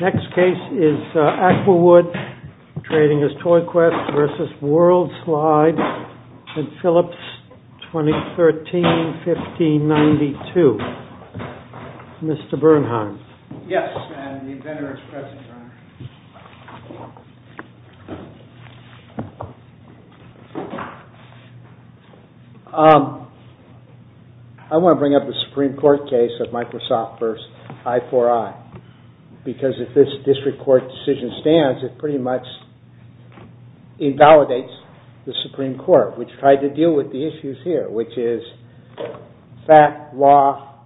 Next case is Aquawood, trading as ToyQuest v. WorldSlide, LLC. I want to bring up the Supreme Court case of Microsoft v. I4I because if this district court decision stands, it pretty much invalidates the Supreme Court, which tried to deal with the issues here, which is fact, law,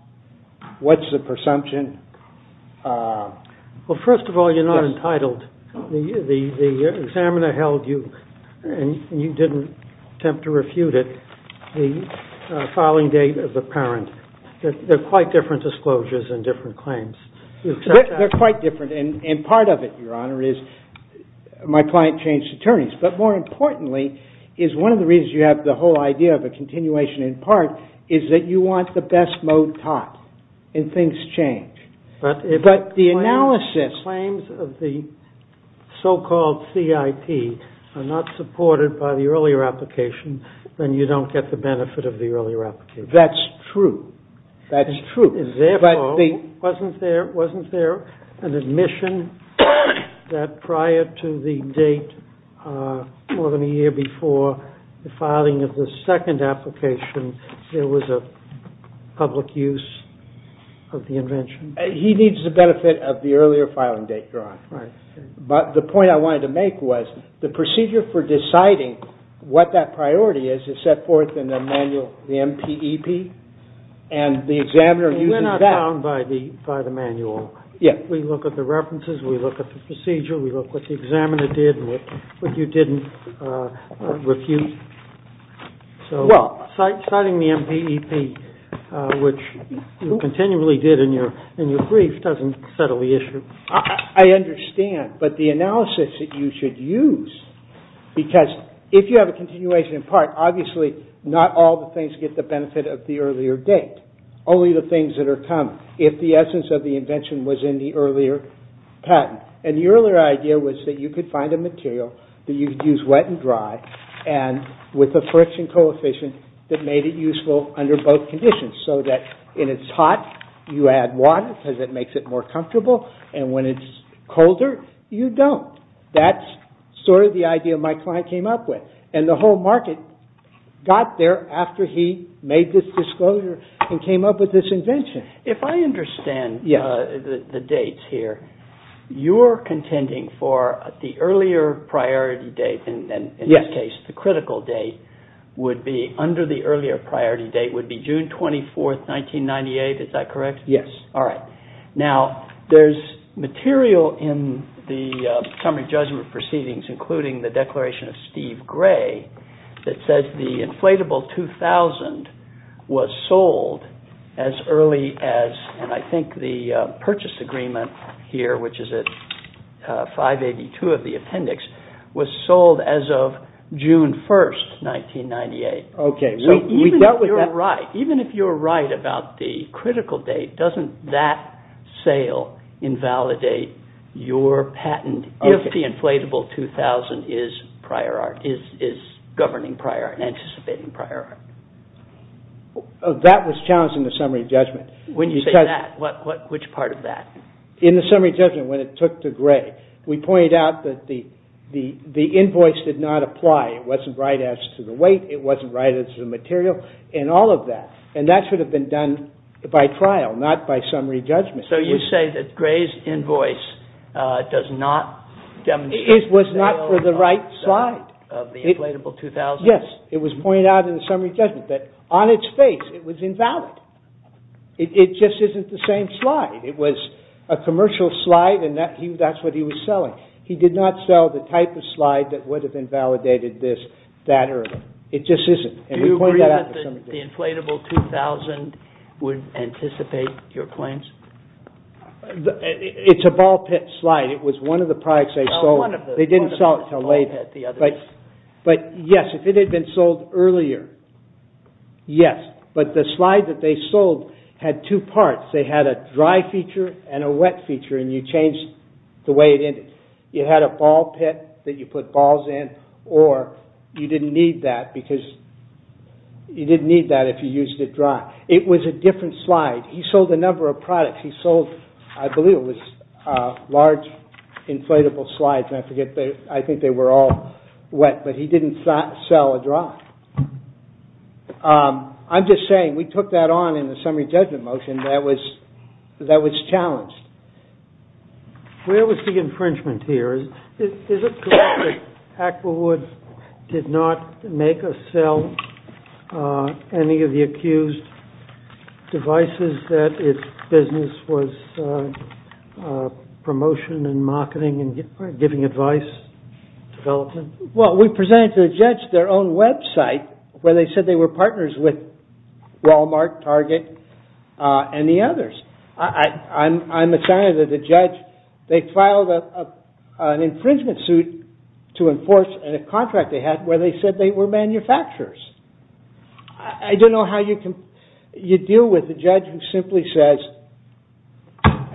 what's the presumption. Well, first of all, you're not entitled. The examiner held you, and you didn't attempt to refute it, the filing date of the parent. They're quite different disclosures and different claims. They're quite different, and part of it, Your Honor, is my client changed attorneys. But more importantly is one of the reasons you have the whole idea of a continuation in part is that you want the best mode top, and things change. But if the claims of the so-called CIP are not supported by the earlier application, then you don't get the benefit of the earlier application. That's true. That's true. Therefore, wasn't there an admission that prior to the date more than a year before the filing of the second application, there was a public use of the invention? He needs the benefit of the earlier filing date, Your Honor. But the point I wanted to make was the procedure for deciding what that priority is is set forth in the manual, the MPEP, and the examiner uses that. You're not bound by the manual. Yes. We look at the references. We look at the procedure. We look what the examiner did and what you didn't refute. Well. So citing the MPEP, which you continually did in your brief, doesn't settle the issue. I understand, but the analysis that you should use, because if you have a continuation in the manual, obviously not all the things get the benefit of the earlier date, only the things that are common, if the essence of the invention was in the earlier patent. And the earlier idea was that you could find a material that you could use wet and dry and with a friction coefficient that made it useful under both conditions, so that when it's hot, you add water because it makes it more comfortable, and when it's colder, you don't. That's sort of the idea my client came up with. And the whole market got there after he made this disclosure and came up with this invention. If I understand the dates here, you're contending for the earlier priority date, in this case, the critical date, would be, under the earlier priority date, would be June 24, 1998. Is that correct? Yes. All right. Now, there's material in the summary judgment proceedings, including the declaration of Steve Gray, that says the inflatable 2000 was sold as early as, and I think the purchase agreement here, which is at 582 of the appendix, was sold as of June 1, 1998. Okay. Even if you're right, even if you're right about the critical date, doesn't that sale invalidate your patent if the inflatable 2000 is prior, is governing prior and anticipating prior? That was challenged in the summary judgment. When you say that, which part of that? In the summary judgment, when it took to Gray, we pointed out that the invoice did not apply. It wasn't right as to the weight, it wasn't right as to the material, and all of that. And that should have been done by trial, not by summary judgment. So you say that Gray's invoice does not demonstrate the sale of the inflatable 2000? It was not for the right slide. Yes. It was pointed out in the summary judgment that, on its face, it was invalid. It just isn't the same slide. It was a commercial slide, and that's what he was selling. He did not sell the type of slide that would have invalidated this that early. It just isn't. Do you agree that the inflatable 2000 would anticipate your claims? It's a ball pit slide. It was one of the products they sold. They didn't sell it until later. But yes, if it had been sold earlier, yes. But the slide that they sold had two parts. They had a dry feature and a wet feature, and you changed the way it ended. You had a ball pit that you put balls in, or you didn't need that, because you didn't need that if you used it dry. It was a different slide. He sold a number of products. He sold, I believe it was large inflatable slides, and I think they were all wet, but he didn't sell a dry. I'm just saying, we took that on in the summary judgment motion. That was challenged. Where was the infringement here? Is it correct that AquaWood did not make or sell any of the accused devices that its business was promotion and marketing and giving advice development? Well, we presented to the judge their own website where they said they were partners with Walmart, Target, and the others. I'm assigned to the judge. They filed an infringement suit to enforce a contract they had where they said they were manufacturers. I don't know how you deal with a judge who simply says,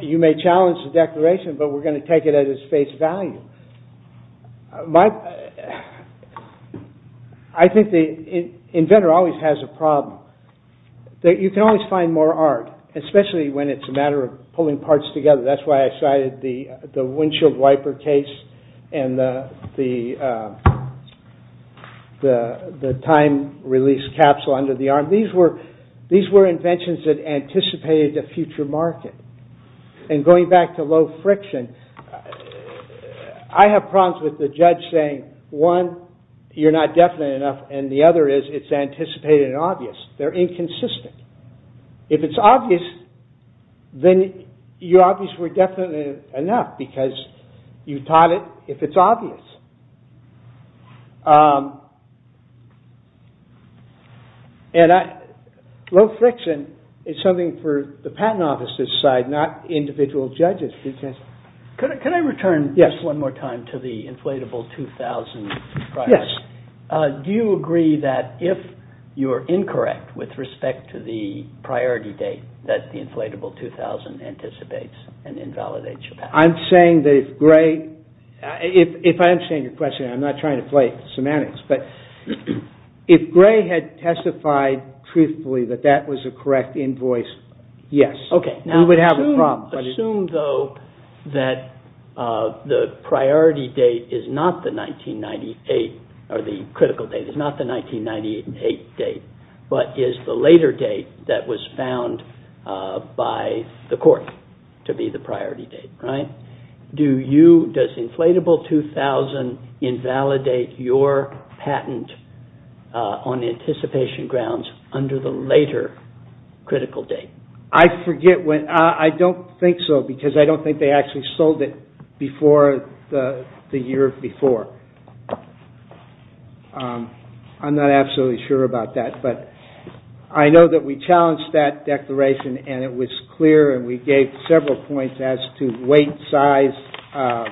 you may challenge the declaration, but we're going to take it at its face value. I think the inventor always has a problem. You can always find more art, especially when it's a matter of pulling parts together. That's why I cited the windshield wiper case and the time release capsule under the arm. These were inventions that anticipated a future market. Going back to low friction, I have problems with the judge saying, one, you're not definite enough, and the other is, it's anticipated and obvious. They're inconsistent. If it's obvious, then your obvious were definitely enough because you taught it if it's obvious. Low friction is something for the Patent Office's side, not individual judges. Can I return just one more time to the Inflatable 2000? Yes. Do you agree that if you're incorrect with respect to the priority date that the Inflatable 2000 anticipates and invalidates your patent? I'm saying that if gray... If I understand your question, I'm not trying to play semantics. If gray had testified truthfully that that was a correct invoice, yes. We would have a problem. Assume though that the priority date is not the 1998, or the critical date is not the 1998 date, but is the later date that was found by the court to be the priority date. Does Inflatable 2000 invalidate your patent on anticipation grounds under the later critical date? I forget. I don't think so, because I don't think they actually sold it before the year before. I'm not absolutely sure about that, but I know that we challenged that declaration, and it was clear, and we gave several points as to weight, size,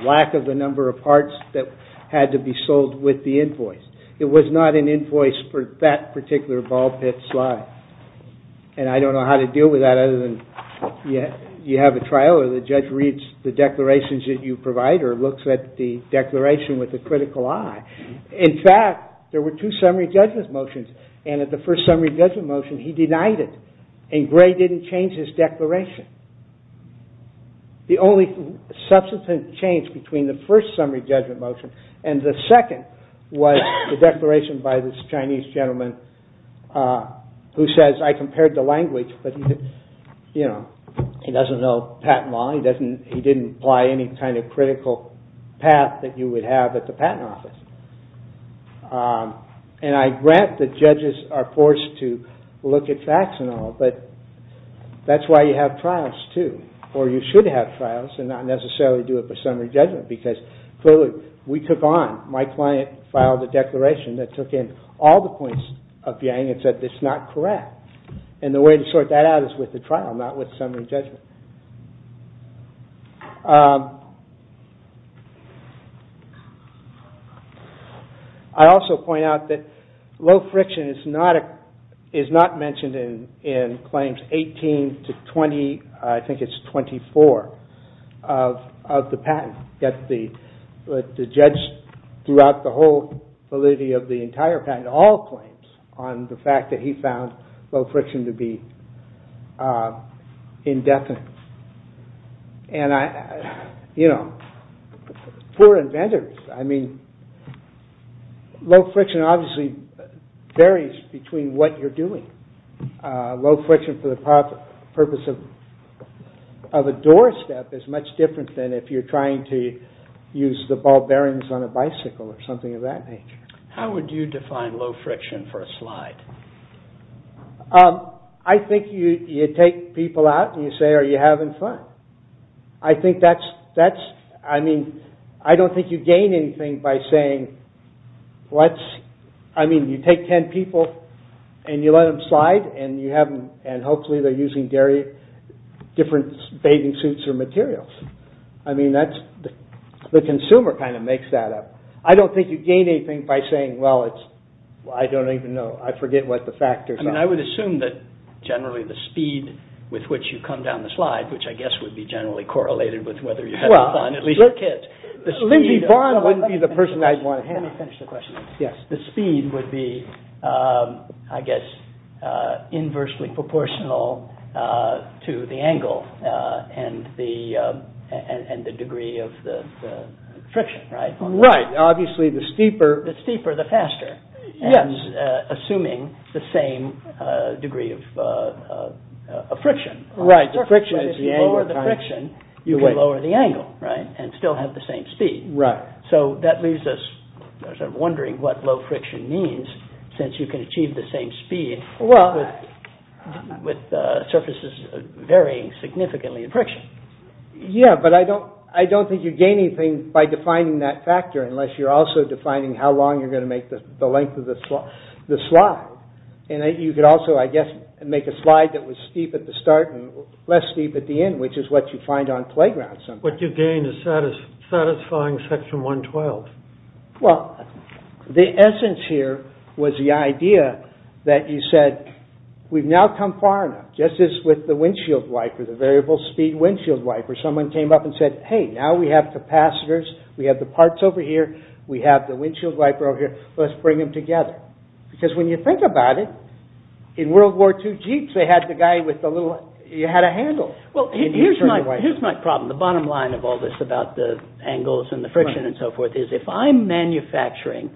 lack of the number of parts that had to be sold with the invoice. It was not an invoice for that particular ball pit slide, and I don't know how to deal with that other than you have a trial, or the judge reads the declarations that you provide, or looks at the declaration with a critical eye. In fact, there were two summary judgment motions, and at the first summary judgment motion, he denied it. And Gray didn't change his declaration. The only substantive change between the first summary judgment motion, and the second was the declaration by this Chinese gentleman, who says, I compared the language, but he doesn't know patent law, he didn't apply any kind of critical path that you would have at the patent office. And I grant that judges are forced to look at facts and all, but that's why you have trials too, or you should have trials, and not necessarily do it for summary judgment, because clearly, we took on, my client filed a declaration that took in all the points of Yang and said it's not correct. And the way to sort that out is with the trial, not with summary judgment. I also point out that low friction is not mentioned in claims 18 to 20, I think it's 24, of the patent. The judge, throughout the whole validity of the entire patent, all claims on the fact that he found low friction to be indefinite. And I, you know, we're inventors, I mean, low friction obviously varies between what you're doing. Low friction for the purpose of a doorstep is much different than if you're trying to use the ball bearings on a bicycle or something of that nature. I think you take people out and you say, are you having fun? I think that's, I mean, I don't think you gain anything by saying, what's, I mean, you take ten people and you let them slide, and you have them, and hopefully they're using dairy, different bathing suits or materials. I mean, that's, the consumer kind of makes that up. I don't think you gain anything by saying, well, it's, I don't even know, I forget what the factors are. I mean, I would assume that generally the speed with which you come down the slide, which I guess would be generally correlated with whether you're having fun, at least for kids. Well, Lindsey Vonn wouldn't be the person I'd want to have. Let me finish the question. Yes. The speed would be, I guess, inversely proportional to the angle and the degree of the friction, right? Right. Obviously, the steeper... The steeper, the faster. Yes. Assuming the same degree of friction. Right. The friction is the angle. If you lower the friction, you can lower the angle, right? And still have the same speed. Right. So that leaves us wondering what low friction means, since you can achieve the same speed with surfaces varying significantly in friction. Yeah, but I don't think you gain anything by defining that factor, unless you're also defining how long you're going to make the length of the slide. And you could also, I guess, make a slide that was steep at the start and less steep at the end, which is what you find on playgrounds sometimes. What you gain is satisfying Section 112. Well, the essence here was the idea that you said, we've now come far enough. Just as with the windshield wiper, the variable speed windshield wiper, someone came up and said, hey, now we have capacitors, we have the parts over here, we have the windshield wiper over here, let's bring them together. Because when you think about it, in World War II Jeeps, they had the guy with the little, you had a handle. Well, here's my problem, the bottom line of all this about the angles and the friction and so forth, is if I'm manufacturing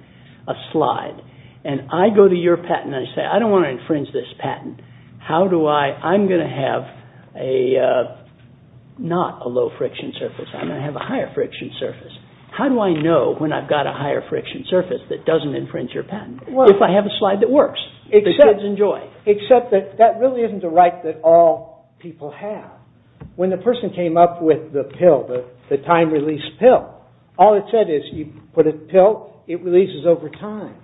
a slide, and I go to your patent and I say, I don't want to infringe this patent, how do I, I'm going to have a, not a low friction surface, I'm going to have a higher friction surface. How do I know when I've got a higher friction surface that doesn't infringe your patent, if I have a slide that works, that kids enjoy? Except that that really isn't a right that all people have. When the person came up with the pill, the time-release pill, all it said is, you put a pill, it releases over time.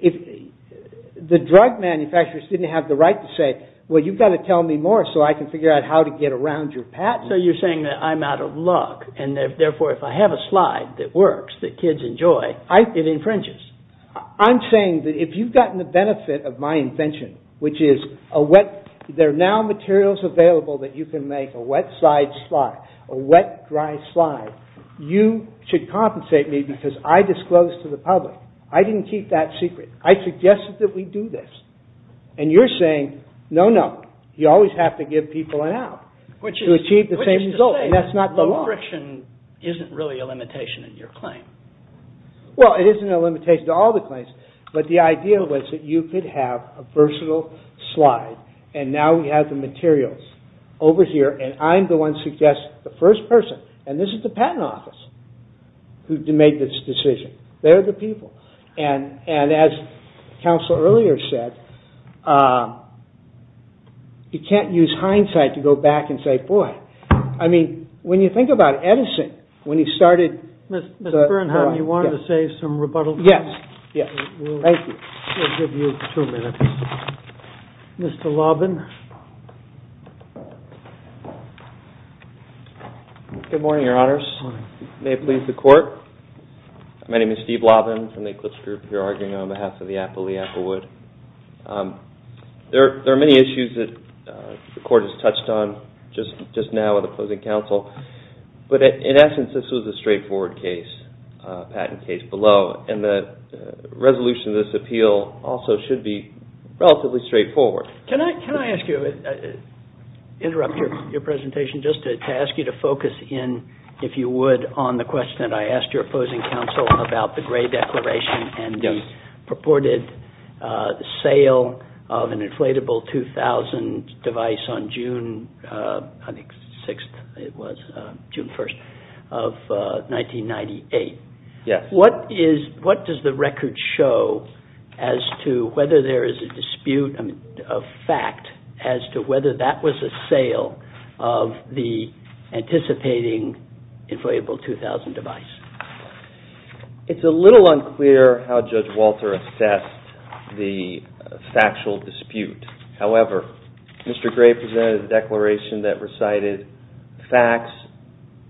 The drug manufacturers didn't have the right to say, well, you've got to tell me more so I can figure out how to get around your patent. So you're saying that I'm out of luck, and therefore if I have a slide that works, that kids enjoy, it infringes. I'm saying that if you've gotten the benefit of my invention, which is a wet, there are now materials available that you can make a wet-side slide, a wet-dry slide, you should compensate me because I disclosed to the public. I didn't keep that secret. I suggested that we do this. And you're saying, no, no, you always have to give people an out. To achieve the same result, and that's not the law. Which is to say, low friction isn't really a limitation in your claim. Well, it isn't a limitation to all the claims, but the idea was that you could have a versatile slide, and now we have the materials over here, and I'm the one who suggests the first person, and this is the patent office, who made this decision. They're the people. And as counsel earlier said, you can't use hindsight to go back and say, boy. I mean, when you think about Edison, when he started... Mr. Bernhard, you wanted to say some rebuttals? Yes. Thank you. We'll give you two minutes. Mr. Lobin. Good morning, Your Honors. May it please the Court. My name is Steve Lobin from the Eclipse Group, here arguing on behalf of the Apple of the Applewood. There are many issues that the Court has touched on just now with opposing counsel, but in essence, this was a straightforward case, a patent case below, and the resolution of this appeal also should be relatively straightforward. Can I ask you, interrupt your presentation just to ask you to focus in, if you would, on the question that I asked your opposing counsel about the Gray Declaration and the purported sale of an inflatable 2000 device on June, I think 6th it was, June 1st of 1998. What does the record show as to whether there is a dispute, a fact as to whether that was a sale of the anticipating inflatable 2000 device? It's a little unclear how Judge Walter assessed the factual dispute. However, Mr. Gray presented a declaration that recited facts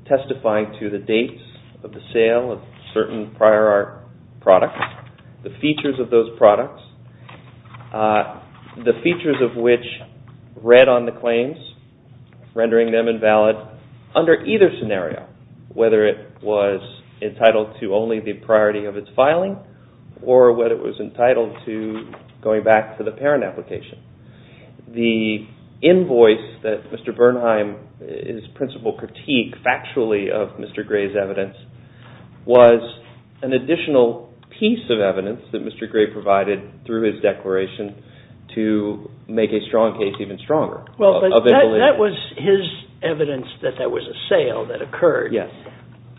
testifying to the dates of the sale of certain prior art products, the features of those products, the features of which read on the claims, rendering them invalid under either scenario, whether it was entitled to only the priority of its filing or whether it was entitled to going back to the parent application. The invoice that Mr. Bernheim, his principal critique factually of Mr. Gray's evidence was an additional piece of evidence that Mr. Gray provided through his declaration to make a strong case even stronger. That was his evidence that there was a sale that occurred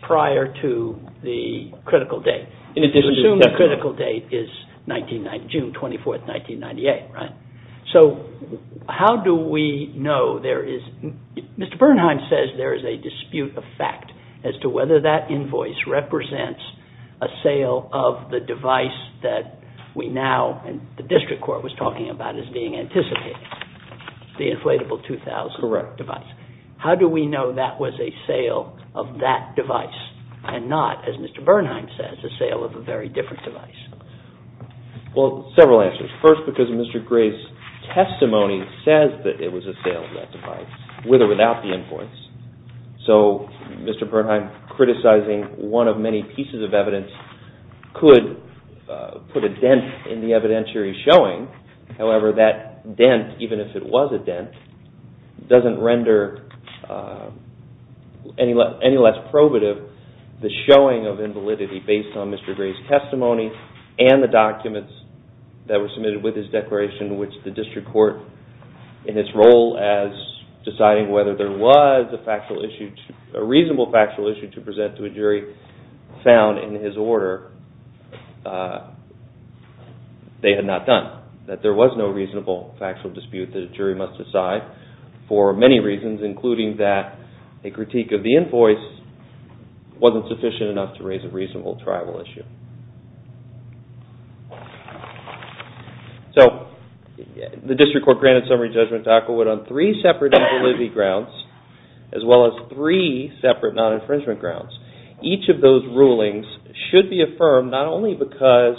prior to the critical date. Assume the critical date is June 24th, 1998. So how do we know there is, Mr. Bernheim says there is a dispute of fact as to whether that invoice represents a sale of the device that we now, and the district court was talking about as being anticipated, the inflatable 2000 device. How do we know that was a sale of that device and not, as Mr. Bernheim says, a sale of a very different device? Well, several answers. First, because Mr. Gray's testimony says that it was a sale of that device, with or without the invoice. So Mr. Bernheim criticizing one of many pieces of evidence could put a dent in the evidentiary showing. However, that dent, even if it was a dent, doesn't render any less probative the showing of invalidity based on Mr. Gray's testimony and the documents that were submitted with his declaration, which the district court, in its role as deciding whether there was a reasonable factual issue to present to a jury, found in his order, they had not done. That there was no reasonable factual dispute that a jury must decide, for many reasons, including that a critique of the invoice wasn't sufficient enough to raise a reasonable trial issue. So, the district court granted summary judgment to Aquilwood on three separate invalidity grounds, as well as three separate non-infringement grounds. Each of those rulings should be affirmed, not only because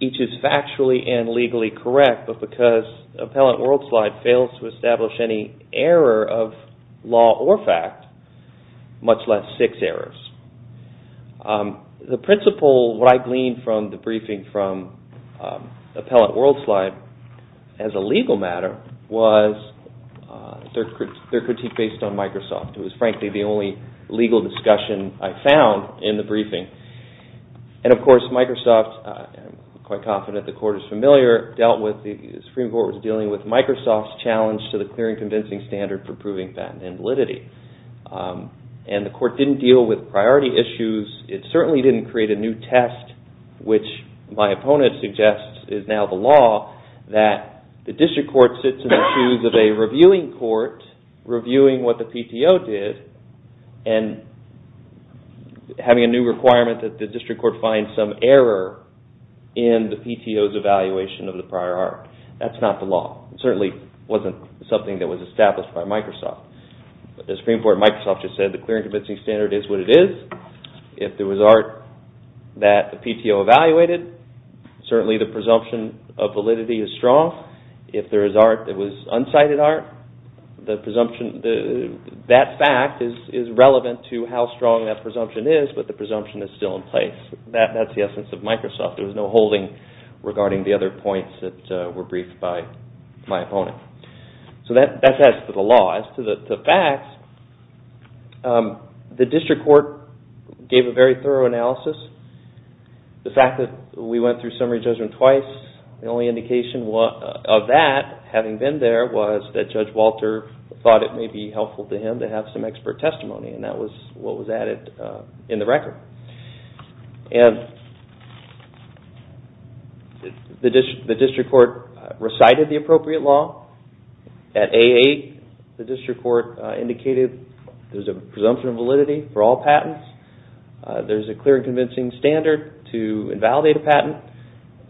each is factually and legally correct, but because Appellant Worldslide fails to establish any error of law or fact, much less six errors. The principle, what I gleaned from the briefing from Appellant Worldslide, as a legal matter, was their critique based on Microsoft. It was, frankly, the only legal discussion I found in the briefing. And, of course, Microsoft, I'm quite confident the court is familiar, dealt with, the Supreme Court was dealing with Microsoft's challenge to the clear and convincing standard for proving patent invalidity. And the court didn't deal with priority issues, it certainly didn't create a new test, which, my opponent suggests, is now the law, that the district court sits in the shoes of a reviewing court, reviewing what the PTO did, and having a new requirement that the district court find some error in the PTO's evaluation of the prior art. That's not the law. It certainly wasn't something that was established by Microsoft. The Supreme Court and Microsoft just said the clear and convincing standard is what it is. If there was art that the PTO evaluated, certainly the presumption of validity is strong. If there is art that was unsighted art, that fact is relevant to how strong that presumption is, but the presumption is still in place. That's the essence of Microsoft. There was no holding regarding the other points that were briefed by my opponent. So that's as to the law. As to the facts, the district court gave a very thorough analysis. The fact that we went through summary judgment twice, the only indication of that, having been there, was that Judge Walter thought it may be helpful to him to have some expert testimony. That was what was added in the record. The district court recited the appropriate law. At A8, the district court indicated there's a presumption of validity for all patents. There's a clear and convincing standard to invalidate a patent.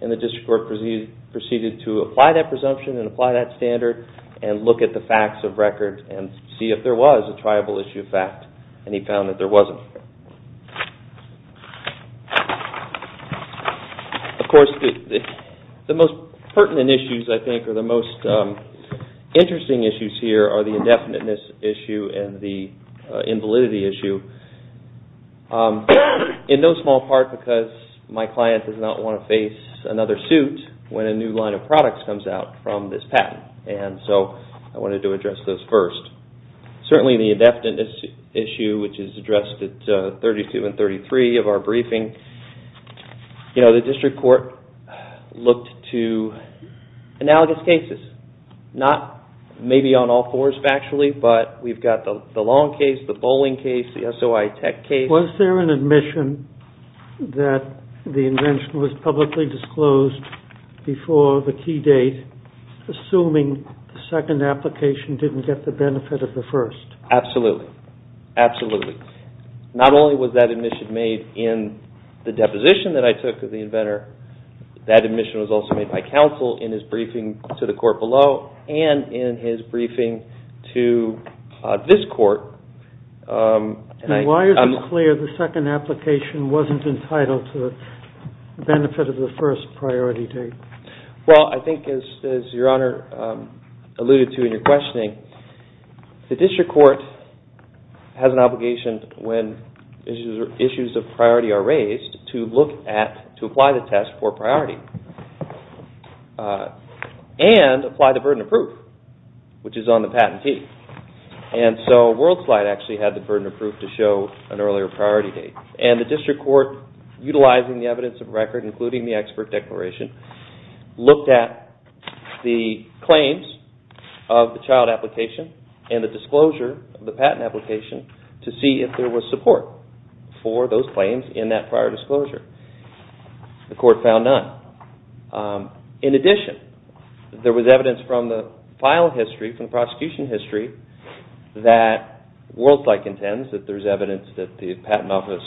The district court proceeded to apply that presumption and apply that standard and look at the facts of record and see if there was a triable issue of fact. He found that there wasn't. Of course, the most pertinent issues, I think, or the most interesting issues here, are the indefiniteness issue and the invalidity issue. In no small part because my client does not want to face another suit when a new line of products comes out from this patent. I wanted to address those first. Certainly, the indefiniteness issue, which is addressed at 32 and 33 of our briefing. The district court looked to analogous cases, not maybe on all fours factually, but we've got the long case, the bowling case, the SOI tech case. Was there an admission that the invention was publicly disclosed before the key date, assuming the second application didn't get the benefit of the first? Absolutely. Absolutely. Not only was that admission made in the deposition that I took of the inventor, that admission was also made by counsel in his briefing to the court below and in his briefing to this court. Why is it clear the second application wasn't entitled to the benefit of the first priority date? Well, I think as Your Honor alluded to in your questioning, the district court has an obligation when issues of priority are raised to look at, to apply the test for priority. And apply the burden of proof, which is on the patentee. And so WorldSlide actually had the burden of proof to show an earlier priority date. And the district court, utilizing the evidence of record, including the expert declaration, looked at the claims of the child application and the disclosure of the patent application to see if there was support for those claims in that prior disclosure. The court found none. In addition, there was evidence from the file history, from the prosecution history, that WorldSlide contends that there's evidence that the patent office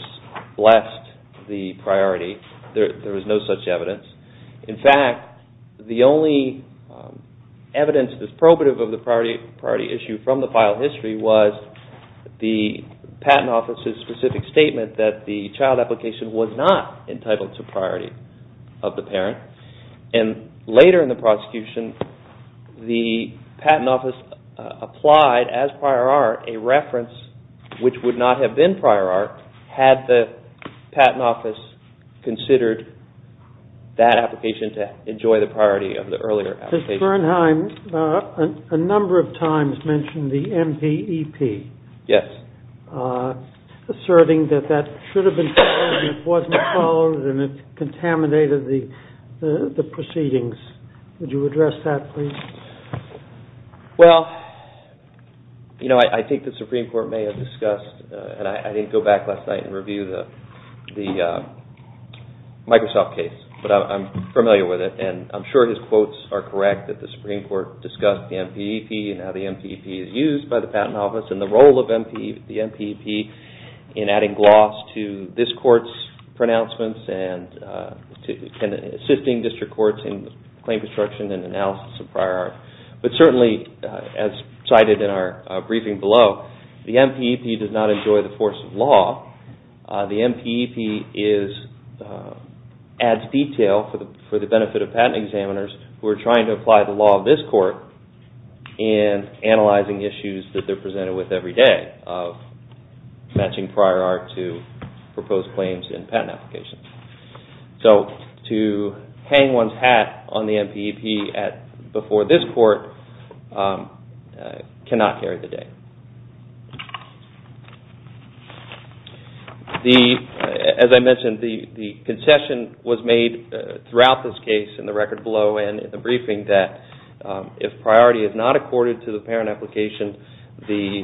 left the priority. There was no such evidence. In fact, the only evidence that's probative of the priority issue from the file history was the patent office's specific statement that the child application was not entitled to priority of the parent. And later in the prosecution, the patent office applied as prior art a reference, which would not have been prior art, had the patent office considered that application to enjoy the priority of the earlier application. Mr. Bernheim, a number of times mentioned the MPEP. Asserting that that should have been followed and it wasn't followed and it contaminated the proceedings. Would you address that, please? Well, you know, I think the Supreme Court may have discussed, and I didn't go back last night and review the Microsoft case, but I'm familiar with it and I'm sure his quotes are correct that the Supreme Court discussed the MPEP and how the MPEP is used by the patent office and the role of the MPEP in adding gloss to this court's pronouncements and assisting district courts in claim construction and analysis of prior art. But certainly, as cited in our briefing below, the MPEP does not enjoy the force of law. The MPEP adds detail for the benefit of patent examiners who are trying to apply the law of this court in analyzing issues that they're presented with every day of matching prior art to proposed claims in patent applications. So to hang one's hat on the MPEP before this court cannot carry the day. As I mentioned, the concession was made throughout this case in the record below and in the briefing that if priority is not accorded to the parent application, the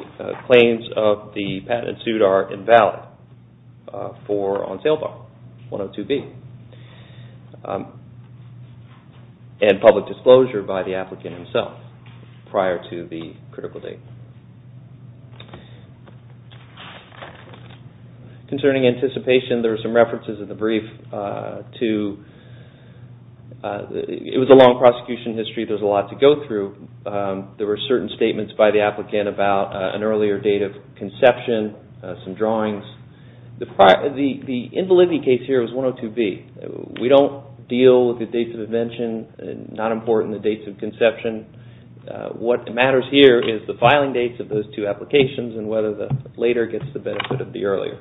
claims of the patent suit are invalid on sale bar 102B and public disclosure by the applicant himself prior to the critical date. Concerning anticipation, there are some references in the brief to... It was a long prosecution history. There's a lot to go through. There were certain statements by the applicant about an earlier date of conception, some drawings. The invalidity case here was 102B. We don't deal with the dates of invention. It's not important, the dates of conception. What matters here is the filing dates of those two applications and whether the later gets the benefit of the earlier.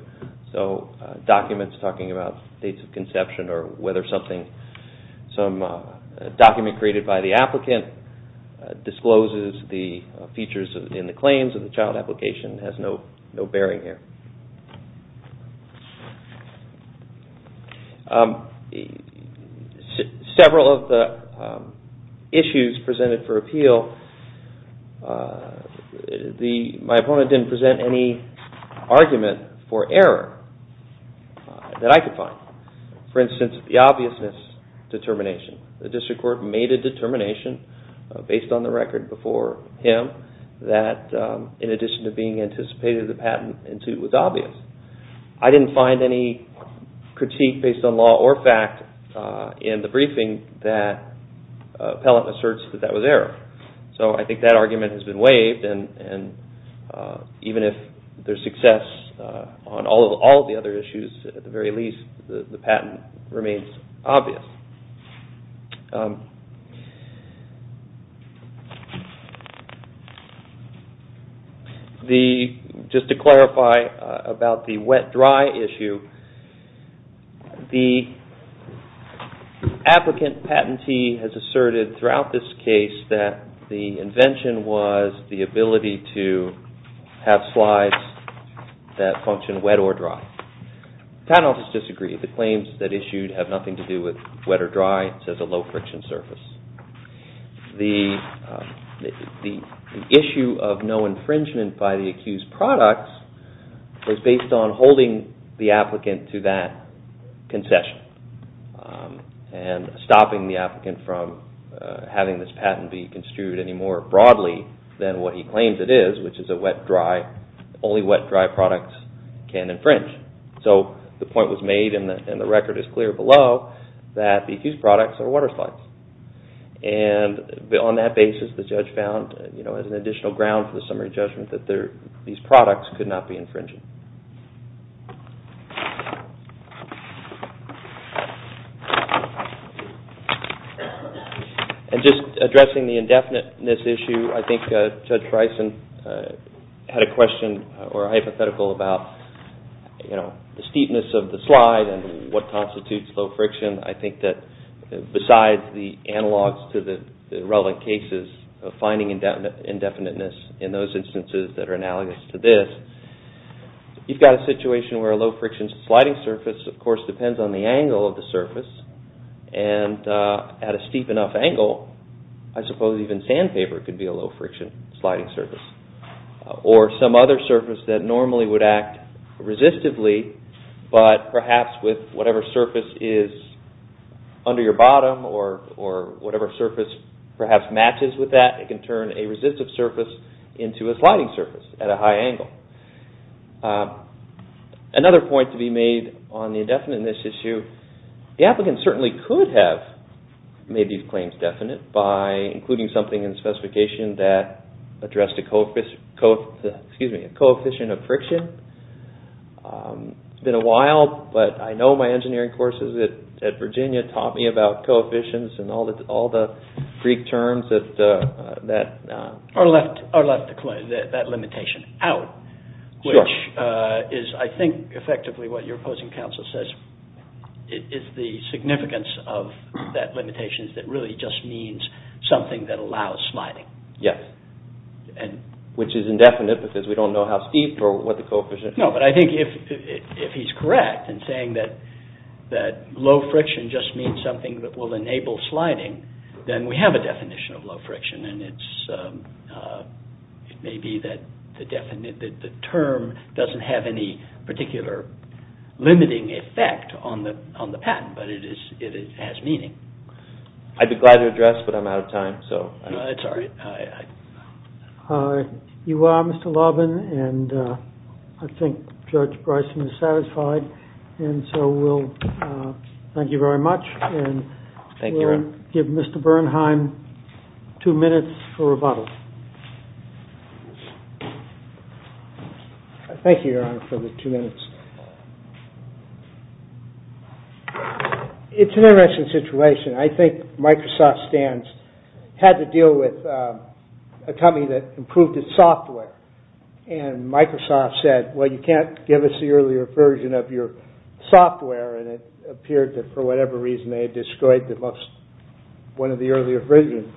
So documents talking about dates of conception or whether something... A document created by the applicant discloses the features in the claims of the child application has no bearing here. Several of the issues presented for appeal my opponent didn't present any argument for error that I could find. For instance, the obviousness determination. The district court made a determination based on the record before him that in addition to being anticipated, the patent was obvious. I didn't find any critique based on law or fact in the briefing that appellant asserts that was error. So I think that argument has been waived and even if there's success on all of the other issues at the very least, the patent remains obvious. Just to clarify about the wet-dry issue the applicant patentee has asserted throughout this case that the invention was the ability to have slides that function wet or dry. The patent office disagreed. The claims that issued have nothing to do with wet or dry. It's a low friction surface. The issue of no infringement by the accused products was based on holding the applicant to that concession and stopping the applicant from having this patent be construed any more broadly than what he claims it is, which is a wet-dry only wet-dry products can infringe. So the point was made and the record is clear below that the accused products are water slides. On that basis, the judge found as an additional ground for the summary judgment that these products could not be infringed. Just addressing the indefiniteness issue I think Judge Tricin had a hypothetical about the steepness of the slide and what constitutes low friction. I think that besides the analogs to the relevant cases of finding indefiniteness in those instances that are analogous to this, you've got a situation where a low friction sliding surface depends on the angle of the surface and at a steep enough angle, I suppose even sandpaper could be a low friction sliding surface. Or some other surface that normally would act resistively, but perhaps with whatever surface is under your bottom or whatever surface perhaps matches with that it can turn a resistive surface into a sliding surface at a high angle. Another point to be made on the indefiniteness issue the applicant certainly could have made these claims definite by including something in the specification that addressed a coefficient of friction. It's been a while, but I know my engineering courses at Virginia taught me about coefficients and all the Greek terms that left that limitation out, which is I think effectively what your opposing counsel says is the significance of that limitation that really just means something that allows sliding. Which is indefinite because we don't know how steep or what the coefficient is. No, but I think if he's correct in saying that low friction just means something that will enable sliding then we have a definition of low friction and it may be that the term doesn't have any particular limiting effect on the patent, but it has meaning. I'd be glad to address, but I'm out of time. It's alright. You are, Mr. Loban, and I think Judge Bryson is satisfied. Thank you very much. We'll give Mr. Bernheim two minutes for rebuttal. Thank you, Your Honor, for the two minutes. It's an interesting situation. I think Microsoft had to deal with a company that improved its software and Microsoft said, well, you can't give us the earlier version of your software and it appeared that for whatever reason they had destroyed one of the earlier versions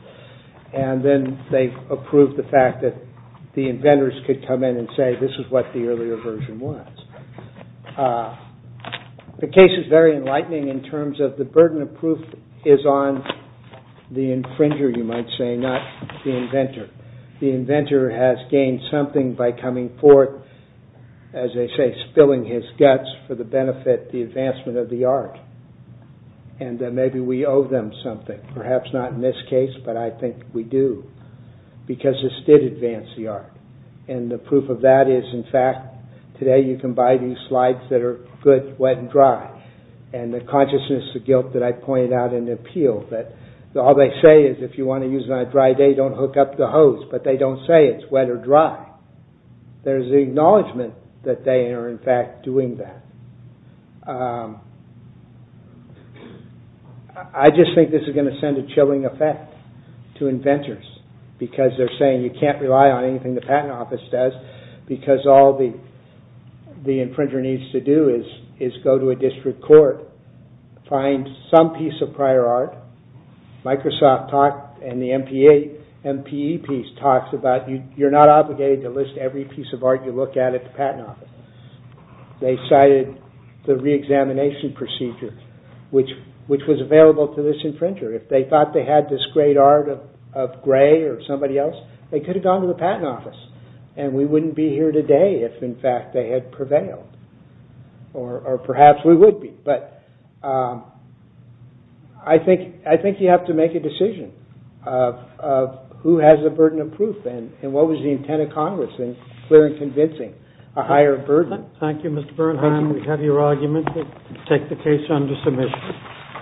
and then they approved the fact that the inventors could come in and say this is what the earlier version was. The case is very enlightening in terms of the burden of proof is on the infringer, you might say, not the inventor. The inventor has gained something by coming forth, as they say, spilling his guts for the benefit of the advancement of the art and that maybe we owe them something. Perhaps not in this case, but I think we do because this did advance the art and the proof of that is, in fact, today you can buy these slides that are good wet and dry and the consciousness of guilt that I pointed out in the appeal that all they say is if you want to use it on a dry day don't hook up the hose, but they don't say it's wet or dry. There's the acknowledgement that they are in fact doing that. I just think this is going to send a chilling effect to inventors because they're saying you can't rely on anything the patent office does because all the infringer needs to do is go to a district court find some piece of prior art Microsoft and the MPE piece talks about you're not obligated to list every piece of art you look at at the patent office. They cited the re-examination procedure which was available to this infringer. If they thought they had this great art of I think you have to make a decision of who has the burden of proof and what was the intent of Congress in clear and convincing a higher burden. Thank you, Mr. Bernheim. We have your argument. We'll take the case under submission.